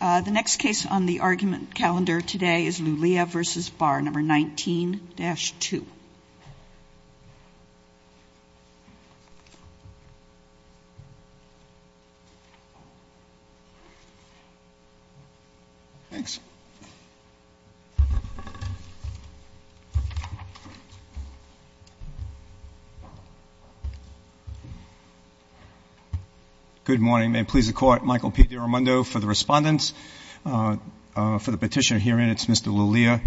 The next case on the argument calendar today is Lulea v. Barr, number 19-2. Good morning. May it please the Court, Michael P. DiRamundo for the respondents. For the petitioner herein, it's Mr. Lulea.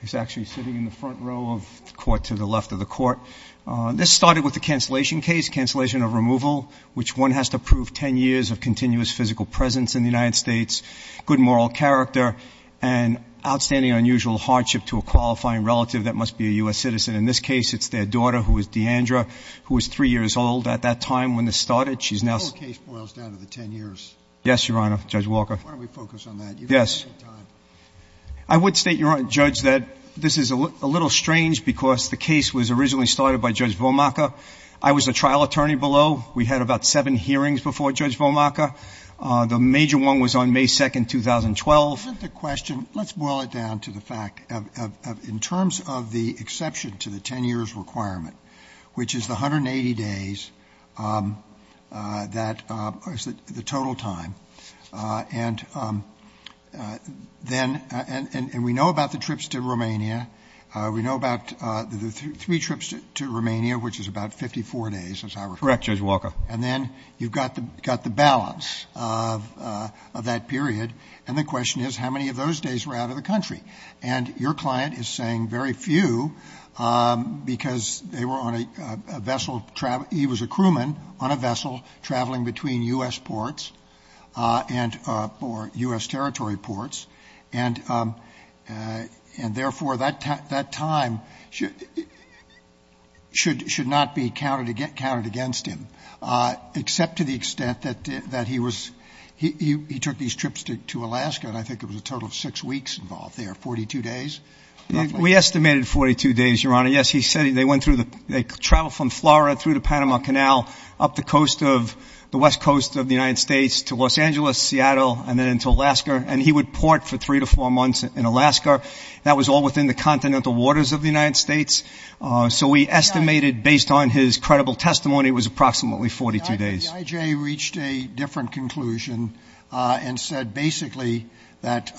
He's actually sitting in the front row of the Court to the left of the Court. This started with the cancellation case, cancellation of removal, which one has to prove 10 years of continuous physical presence in the United States, good moral character, and outstanding unusual hardship to a qualifying relative that must be a U.S. citizen. In this case, it's their daughter, who is D'Andra, who was 3 years old at that time when this started. The whole case boils down to the 10 years. Yes, Your Honor. Judge Walker. Why don't we focus on that? Yes. I would state, Your Honor, Judge, that this is a little strange because the case was originally started by Judge Vomacher. I was a trial attorney below. We had about seven hearings before Judge Vomacher. The major one was on May 2, 2012. Isn't the question — let's boil it down to the fact of in terms of the exception to the 10 years requirement, which is the 180 days, the total time, and we know about the trips to Romania. We know about the three trips to Romania, which is about 54 days, as I recall. Correct, Judge Walker. And then you've got the balance of that period, and the question is how many of those days were out of the country? And your client is saying very few because they were on a vessel — he was a crewman on a vessel traveling between U.S. ports and — or U.S. territory ports, and, therefore, that time should not be counted against him, except to the extent that he was — he took these trips to Alaska, and I think it was a total of six weeks involved there, 42 days? We estimated 42 days, Your Honor. Yes, he said they went through the — they traveled from Florida through the Panama Canal up the coast of — the west coast of the United States to Los Angeles, Seattle, and then into Alaska, and he would port for three to four months in Alaska. That was all within the continental waters of the United States. So we estimated, based on his credible testimony, it was approximately 42 days. The IJ reached a different conclusion and said basically that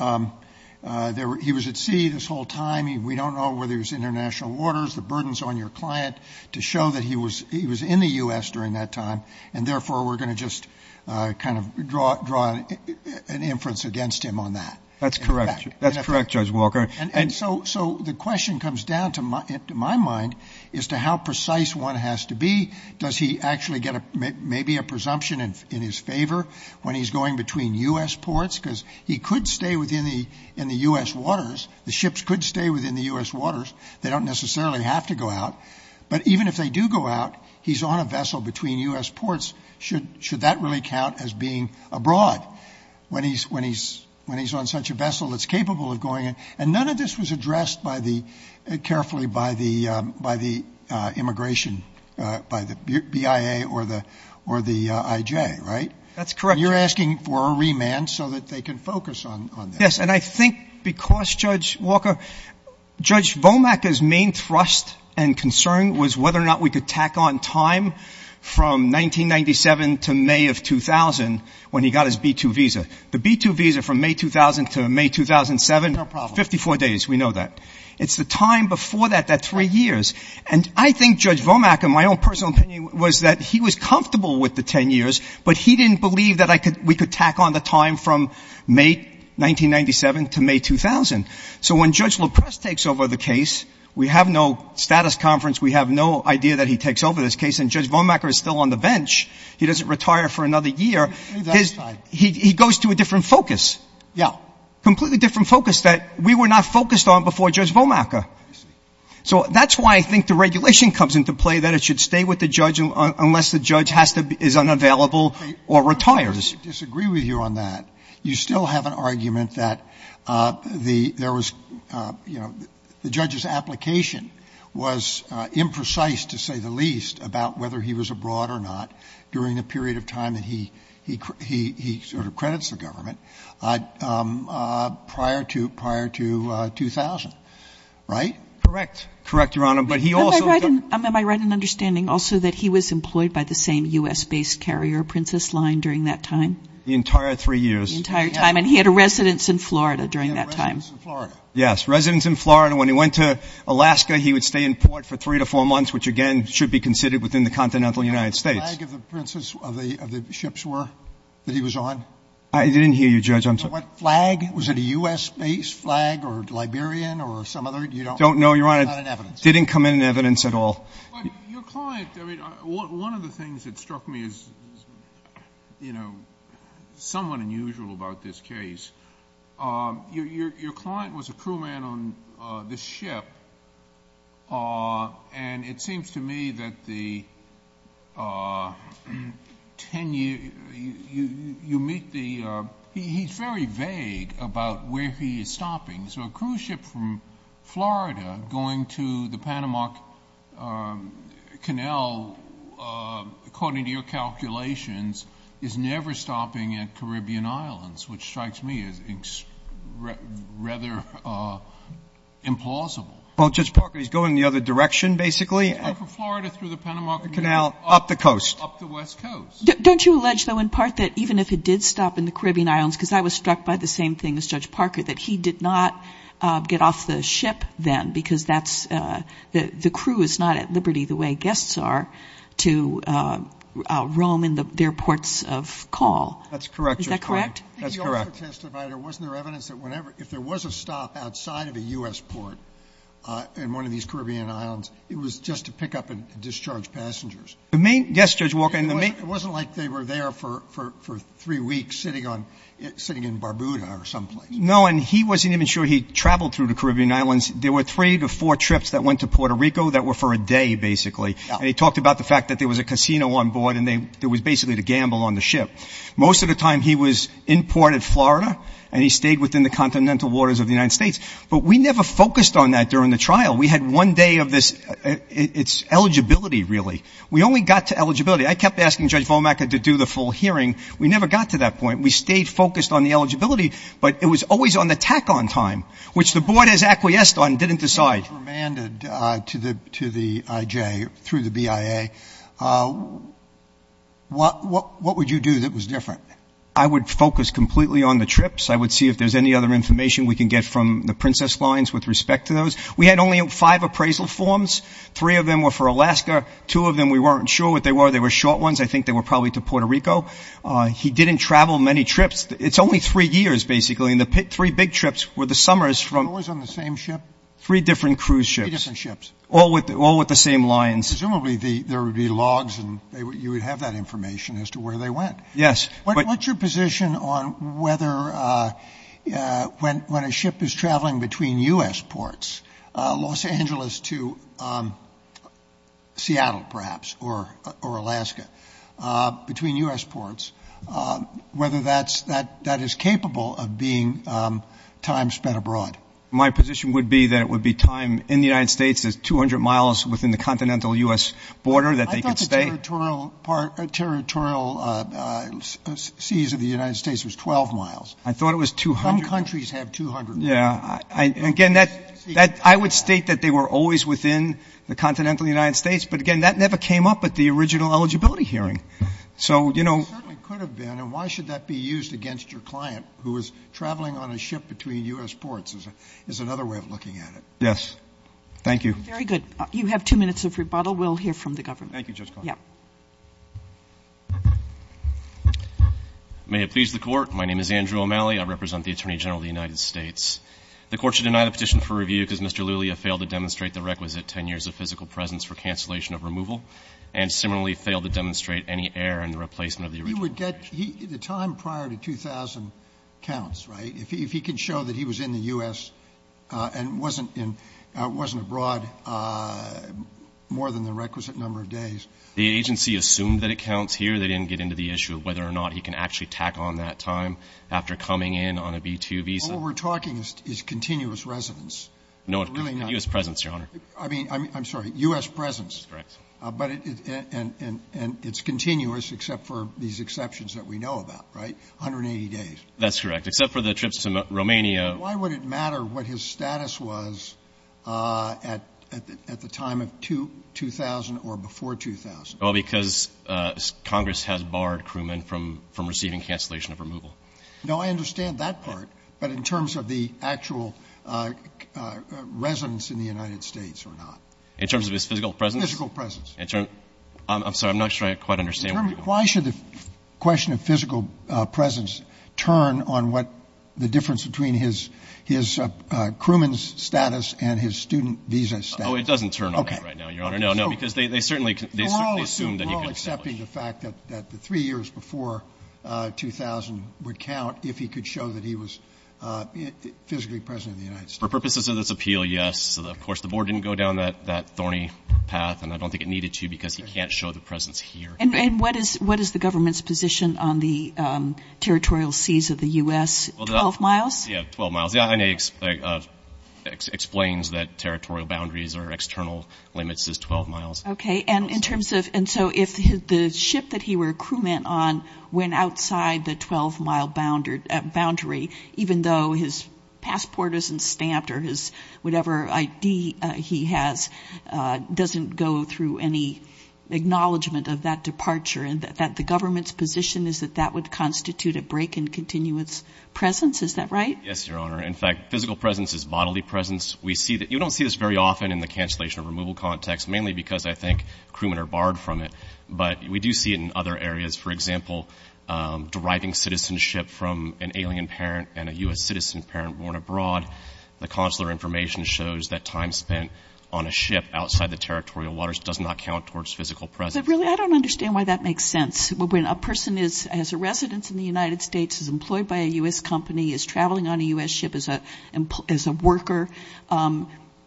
he was at sea this whole time. We don't know whether it was international waters, the burdens on your client, to show that he was in the U.S. during that time, and, therefore, we're going to just kind of draw an inference against him on that. That's correct. That's correct, Judge Walker. And so the question comes down, to my mind, is to how precise one has to be. Does he actually get maybe a presumption in his favor when he's going between U.S. ports? Because he could stay within the U.S. waters. The ships could stay within the U.S. waters. They don't necessarily have to go out. But even if they do go out, he's on a vessel between U.S. ports. Should that really count as being abroad when he's on such a vessel that's capable of going? And none of this was addressed carefully by the immigration, by the BIA or the IJ, right? That's correct. You're asking for a remand so that they can focus on this. Yes, and I think because, Judge Walker, Judge Vomack's main thrust and concern was whether or not we could tack on time from 1997 to May of 2000 when he got his B-2 visa. The B-2 visa from May 2000 to May 2007, 54 days. We know that. It's the time before that, that three years. And I think Judge Vomack, in my own personal opinion, was that he was comfortable with the 10 years, but he didn't believe that we could tack on the time from May 1997 to May 2000. So when Judge Loprest takes over the case, we have no status conference. We have no idea that he takes over this case. And Judge Vomacker is still on the bench. He doesn't retire for another year. He goes to a different focus. Yeah. Completely different focus that we were not focused on before Judge Vomacker. So that's why I think the regulation comes into play that it should stay with the judge unless the judge is unavailable or retires. I disagree with you on that. You still have an argument that the judge's application was imprecise, to say the least, about whether he was abroad or not during the period of time that he sort of credits the government prior to 2000, right? Correct. Correct, Your Honor. Am I right in understanding also that he was employed by the same U.S.-based carrier, Princess Line, during that time? The entire three years. The entire time. And he had a residence in Florida during that time. He had a residence in Florida. Yes, residence in Florida. When he went to Alaska, he would stay in port for three to four months, which, again, should be considered within the continental United States. Do you know what flag of the Princess, of the ships were that he was on? I didn't hear you, Judge. I'm sorry. Was it a U.S.-based flag or Liberian or some other? You don't know. It's not in evidence. It didn't come in in evidence at all. Your client, I mean, one of the things that struck me as, you know, somewhat unusual about this case, your client was a crewman on this ship, and it seems to me that the ten-year, you meet the, he's very vague about where he is stopping, so a cruise ship from Florida going to the Panama Canal, according to your calculations, is never stopping at Caribbean Islands, which strikes me as rather implausible. Well, Judge Parker, he's going the other direction, basically. From Florida through the Panama Canal. Up the coast. Up the west coast. Don't you allege, though, in part, that even if it did stop in the Caribbean Islands, because I was struck by the same thing as Judge Parker, that he did not get off the ship then, because that's, the crew is not at liberty the way guests are to roam in their ports of call. That's correct, Judge Parker. Is that correct? That's correct. If there was a stop outside of a U.S. port in one of these Caribbean Islands, it was just to pick up and discharge passengers. Yes, Judge Walker. It wasn't like they were there for three weeks sitting in Barbuda or someplace. No, and he wasn't even sure he traveled through the Caribbean Islands. There were three to four trips that went to Puerto Rico that were for a day, basically. And he talked about the fact that there was a casino on board and there was basically to gamble on the ship. Most of the time he was in port at Florida, and he stayed within the continental waters of the United States. But we never focused on that during the trial. We had one day of this, it's eligibility, really. We only got to eligibility. I kept asking Judge Volmecker to do the full hearing. We never got to that point. We stayed focused on the eligibility. But it was always on the tack-on time, which the board has acquiesced on and didn't decide. When you were remanded to the IJ through the BIA, what would you do that was different? I would focus completely on the trips. I would see if there's any other information we can get from the Princess lines with respect to those. We had only five appraisal forms. Three of them were for Alaska. Two of them we weren't sure what they were. They were short ones. I think they were probably to Puerto Rico. He didn't travel many trips. It's only three years, basically. And the three big trips were the summers from- Always on the same ship? Three different cruise ships. Three different ships. All with the same lines. Presumably there would be logs and you would have that information as to where they went. Yes. What's your position on whether when a ship is traveling between U.S. ports, Los Angeles to Seattle, perhaps, or Alaska, between U.S. ports, whether that is capable of being time spent abroad? My position would be that it would be time in the United States. There's 200 miles within the continental U.S. border that they could stay. I thought the territorial seas of the United States was 12 miles. I thought it was 200. Some countries have 200. Again, I would state that they were always within the continental United States, but, again, that never came up at the original eligibility hearing. It certainly could have been, and why should that be used against your client, who is traveling on a ship between U.S. ports, is another way of looking at it. Yes. Thank you. Very good. You have two minutes of rebuttal. We'll hear from the government. Thank you, Judge Cohn. Yes. May it please the Court, my name is Andrew O'Malley. I represent the Attorney General of the United States. The Court should deny the petition for review because Mr. Lulia failed to demonstrate the requisite 10 years of physical presence for cancellation of removal and similarly failed to demonstrate any error in the replacement of the original petition. He would get the time prior to 2,000 counts, right, if he can show that he was in the U.S. and wasn't abroad more than the requisite number of days. The agency assumed that it counts here. They didn't get into the issue of whether or not he can actually tack on that time after coming in on a B-2 visa. All we're talking is continuous residence. No, U.S. presence, Your Honor. I mean, I'm sorry, U.S. presence. That's correct. And it's continuous except for these exceptions that we know about, right, 180 days. That's correct, except for the trips to Romania. Why would it matter what his status was at the time of 2,000 or before 2,000? Well, because Congress has barred Crewman from receiving cancellation of removal. No, I understand that part, but in terms of the actual residence in the United States or not? In terms of his physical presence? Physical presence. I'm sorry. I'm not sure I quite understand. Why should the question of physical presence turn on what the difference between his Crewman's status and his student visa status? Oh, it doesn't turn on that right now, Your Honor. Okay. We're all accepting the fact that the three years before 2,000 would count if he could show that he was physically present in the United States. For purposes of this appeal, yes. Of course, the Board didn't go down that thorny path, and I don't think it needed to because he can't show the presence here. And what is the government's position on the territorial seas of the U.S.? Twelve miles? Yeah, 12 miles. It explains that territorial boundaries or external limits is 12 miles. Okay. And in terms of – and so if the ship that he were a Crewman on went outside the 12-mile boundary, even though his passport isn't stamped or his – whatever ID he has doesn't go through any acknowledgment of that departure, that the government's position is that that would constitute a break in continuous presence? Is that right? Yes, Your Honor. In fact, physical presence is bodily presence. We see – you don't see this very often in the cancellation or removal context, mainly because I think Crewmen are barred from it. But we do see it in other areas. For example, deriving citizenship from an alien parent and a U.S. citizen parent born abroad. The consular information shows that time spent on a ship outside the territorial waters does not count towards physical presence. But really, I don't understand why that makes sense. When a person is – has a residence in the United States, is employed by a U.S. company, is traveling on a U.S. ship as a worker,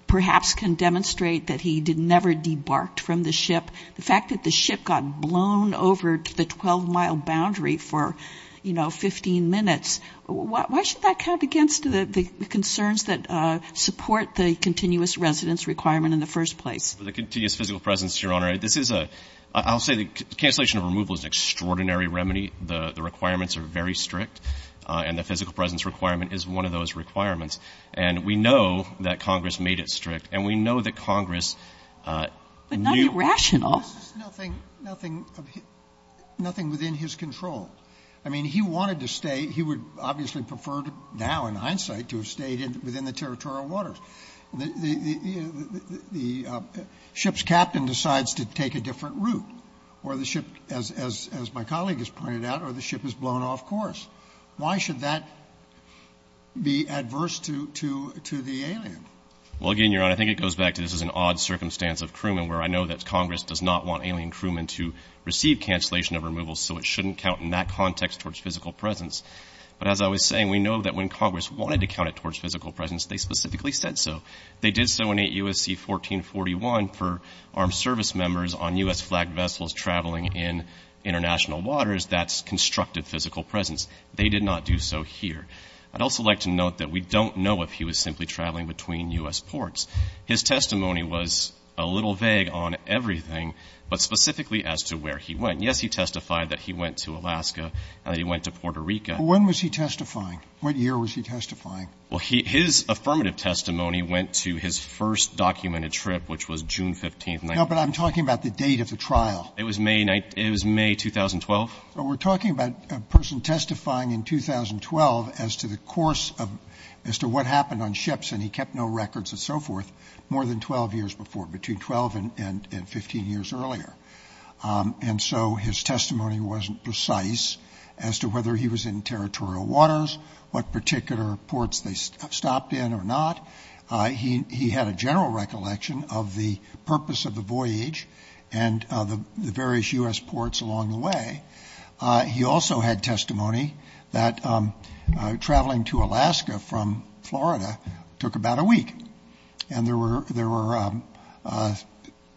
perhaps can demonstrate that he did never debarked from the ship. The fact that the ship got blown over to the 12-mile boundary for, you know, 15 minutes, why should that count against the concerns that support the continuous residence requirement in the first place? For the continuous physical presence, Your Honor, this is a – I'll say the cancellation or removal is an extraordinary remedy. The requirements are very strict. And the physical presence requirement is one of those requirements. And we know that Congress made it strict. And we know that Congress knew – But not irrational. This is nothing – nothing within his control. I mean, he wanted to stay – he would obviously prefer now in hindsight to have stayed within the territorial waters. The ship's captain decides to take a different route. Or the ship, as my colleague has pointed out, or the ship is blown off course. Why should that be adverse to the alien? Well, again, Your Honor, I think it goes back to this is an odd circumstance of crewmen where I know that Congress does not want alien crewmen to receive cancellation of removal, so it shouldn't count in that context towards physical presence. But as I was saying, we know that when Congress wanted to count it towards physical presence, they specifically said so. They did so in 8 U.S.C. 1441 for armed service members on U.S.-flagged vessels traveling in international waters. That's constructive physical presence. They did not do so here. I'd also like to note that we don't know if he was simply traveling between U.S. ports. His testimony was a little vague on everything, but specifically as to where he went. Yes, he testified that he went to Alaska and that he went to Puerto Rico. When was he testifying? What year was he testifying? Well, his affirmative testimony went to his first documented trip, which was June 15th. No, but I'm talking about the date of the trial. It was May 2012. We're talking about a person testifying in 2012 as to the course of as to what happened on ships, and he kept no records and so forth more than 12 years before, between 12 and 15 years earlier. And so his testimony wasn't precise as to whether he was in territorial waters, what particular ports they stopped in or not. He had a general recollection of the purpose of the voyage and the various U.S. ports along the way. He also had testimony that traveling to Alaska from Florida took about a week, and there were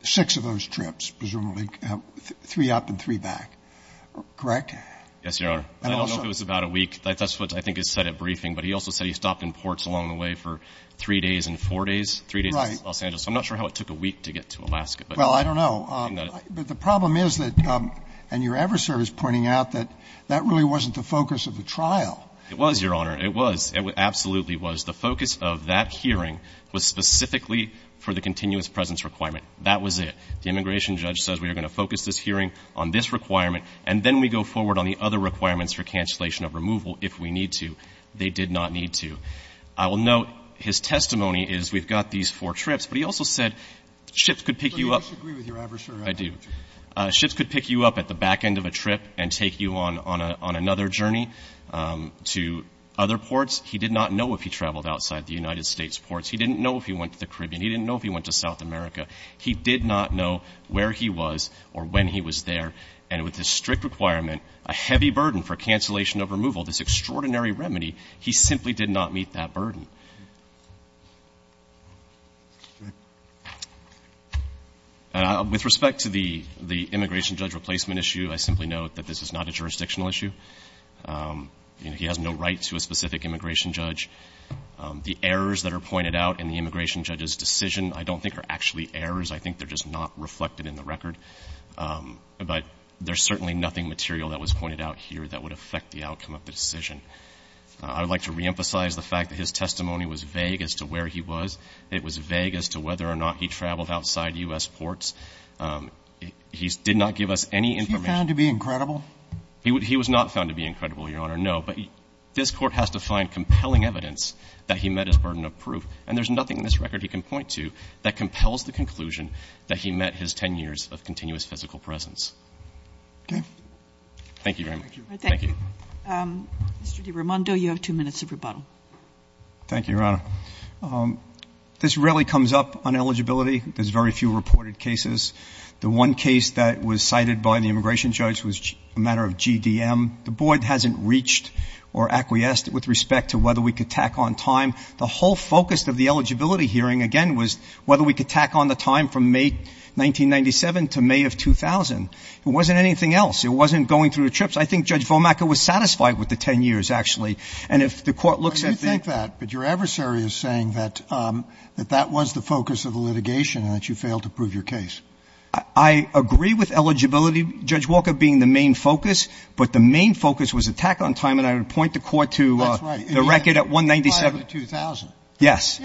six of those trips, presumably, three up and three back. Correct? Yes, Your Honor. I don't know if it was about a week. That's what I think is said at briefing. But he also said he stopped in ports along the way for three days and four days, three days in Los Angeles. Right. So I'm not sure how it took a week to get to Alaska. Well, I don't know. But the problem is that, and Your Everserve is pointing out, that that really wasn't the focus of the trial. It was, Your Honor. It was. It absolutely was. The focus of that hearing was specifically for the continuous presence requirement. That was it. The immigration judge says we are going to focus this hearing on this requirement, and then we go forward on the other requirements for cancellation of removal if we need to. They did not need to. I will note his testimony is we've got these four trips. But he also said ships could pick you up. But you disagree with Your Everserve. I do. Ships could pick you up at the back end of a trip and take you on another journey to other ports. He did not know if he traveled outside the United States ports. He didn't know if he went to the Caribbean. He didn't know if he went to South America. He did not know where he was or when he was there. And with this strict requirement, a heavy burden for cancellation of removal, this extraordinary remedy, he simply did not meet that burden. With respect to the immigration judge replacement issue, I simply note that this is not a jurisdictional issue. He has no right to a specific immigration judge. The errors that are pointed out in the immigration judge's decision I don't think are actually errors. I think they're just not reflected in the record. But there's certainly nothing material that was pointed out here that would affect the outcome of the decision. I would like to reemphasize the fact that his testimony was vague as to where he was. It was vague as to whether or not he traveled outside U.S. ports. He did not give us any information. Was he found to be incredible? He was not found to be incredible, Your Honor, no. But this Court has to find compelling evidence that he met his burden of proof. And there's nothing in this record he can point to that compels the conclusion that he met his 10 years of continuous physical presence. Okay. Thank you very much. Thank you. Mr. DiRamondo, you have two minutes of rebuttal. Thank you, Your Honor. This really comes up on eligibility. There's very few reported cases. The one case that was cited by the immigration judge was a matter of GDM. The Board hasn't reached or acquiesced with respect to whether we could tack on time. The whole focus of the eligibility hearing, again, was whether we could tack on the time from May 1997 to May of 2000. It wasn't anything else. It wasn't going through the trips. I think Judge Vomacker was satisfied with the 10 years, actually. And if the Court looks at the ---- I do think that. But your adversary is saying that that was the focus of the litigation and that you failed to prove your case. I agree with eligibility, Judge Walker, being the main focus. But the main focus was a tack on time. And I would point the Court to the record at 197. Yes.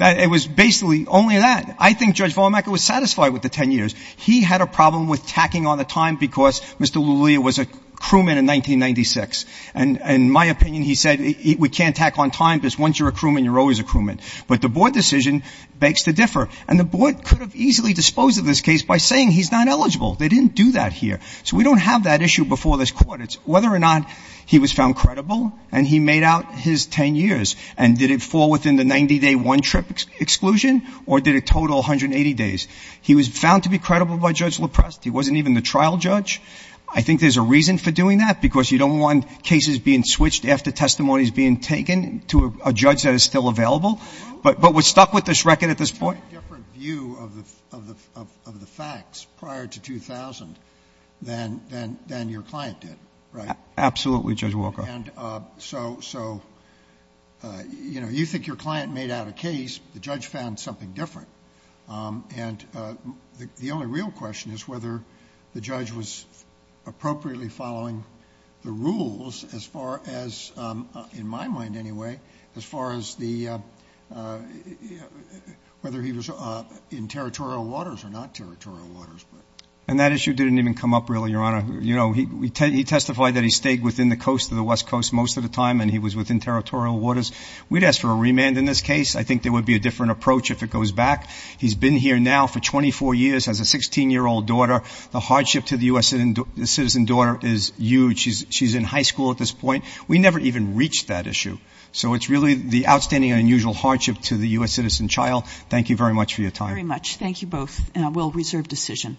It was basically only that. I think Judge Vomacker was satisfied with the 10 years. He had a problem with tacking on the time because Mr. Lulia was a crewman in 1996. And in my opinion, he said we can't tack on time because once you're a crewman, you're always a crewman. But the Board decision begs to differ. And the Board could have easily disposed of this case by saying he's not eligible. They didn't do that here. So we don't have that issue before this Court. But it's whether or not he was found credible and he made out his 10 years. And did it fall within the 90-day one-trip exclusion? Or did it total 180 days? He was found to be credible by Judge LaPrest. He wasn't even the trial judge. I think there's a reason for doing that because you don't want cases being switched after testimonies being taken to a judge that is still available. But we're stuck with this record at this point. of the facts prior to 2000 than your client did, right? Absolutely, Judge Walker. And so, you know, you think your client made out a case. The judge found something different. And the only real question is whether the judge was appropriately following the rules as far as, in my mind anyway, as far as whether he was in territorial waters or not territorial waters. And that issue didn't even come up really, Your Honor. You know, he testified that he stayed within the coast of the West Coast most of the time and he was within territorial waters. We'd ask for a remand in this case. I think there would be a different approach if it goes back. He's been here now for 24 years, has a 16-year-old daughter. The hardship to the U.S. citizen daughter is huge. She's in high school at this point. We never even reached that issue. So it's really the outstanding and unusual hardship to the U.S. citizen child. Thank you very much for your time. Very much. Thank you both. And I will reserve decision.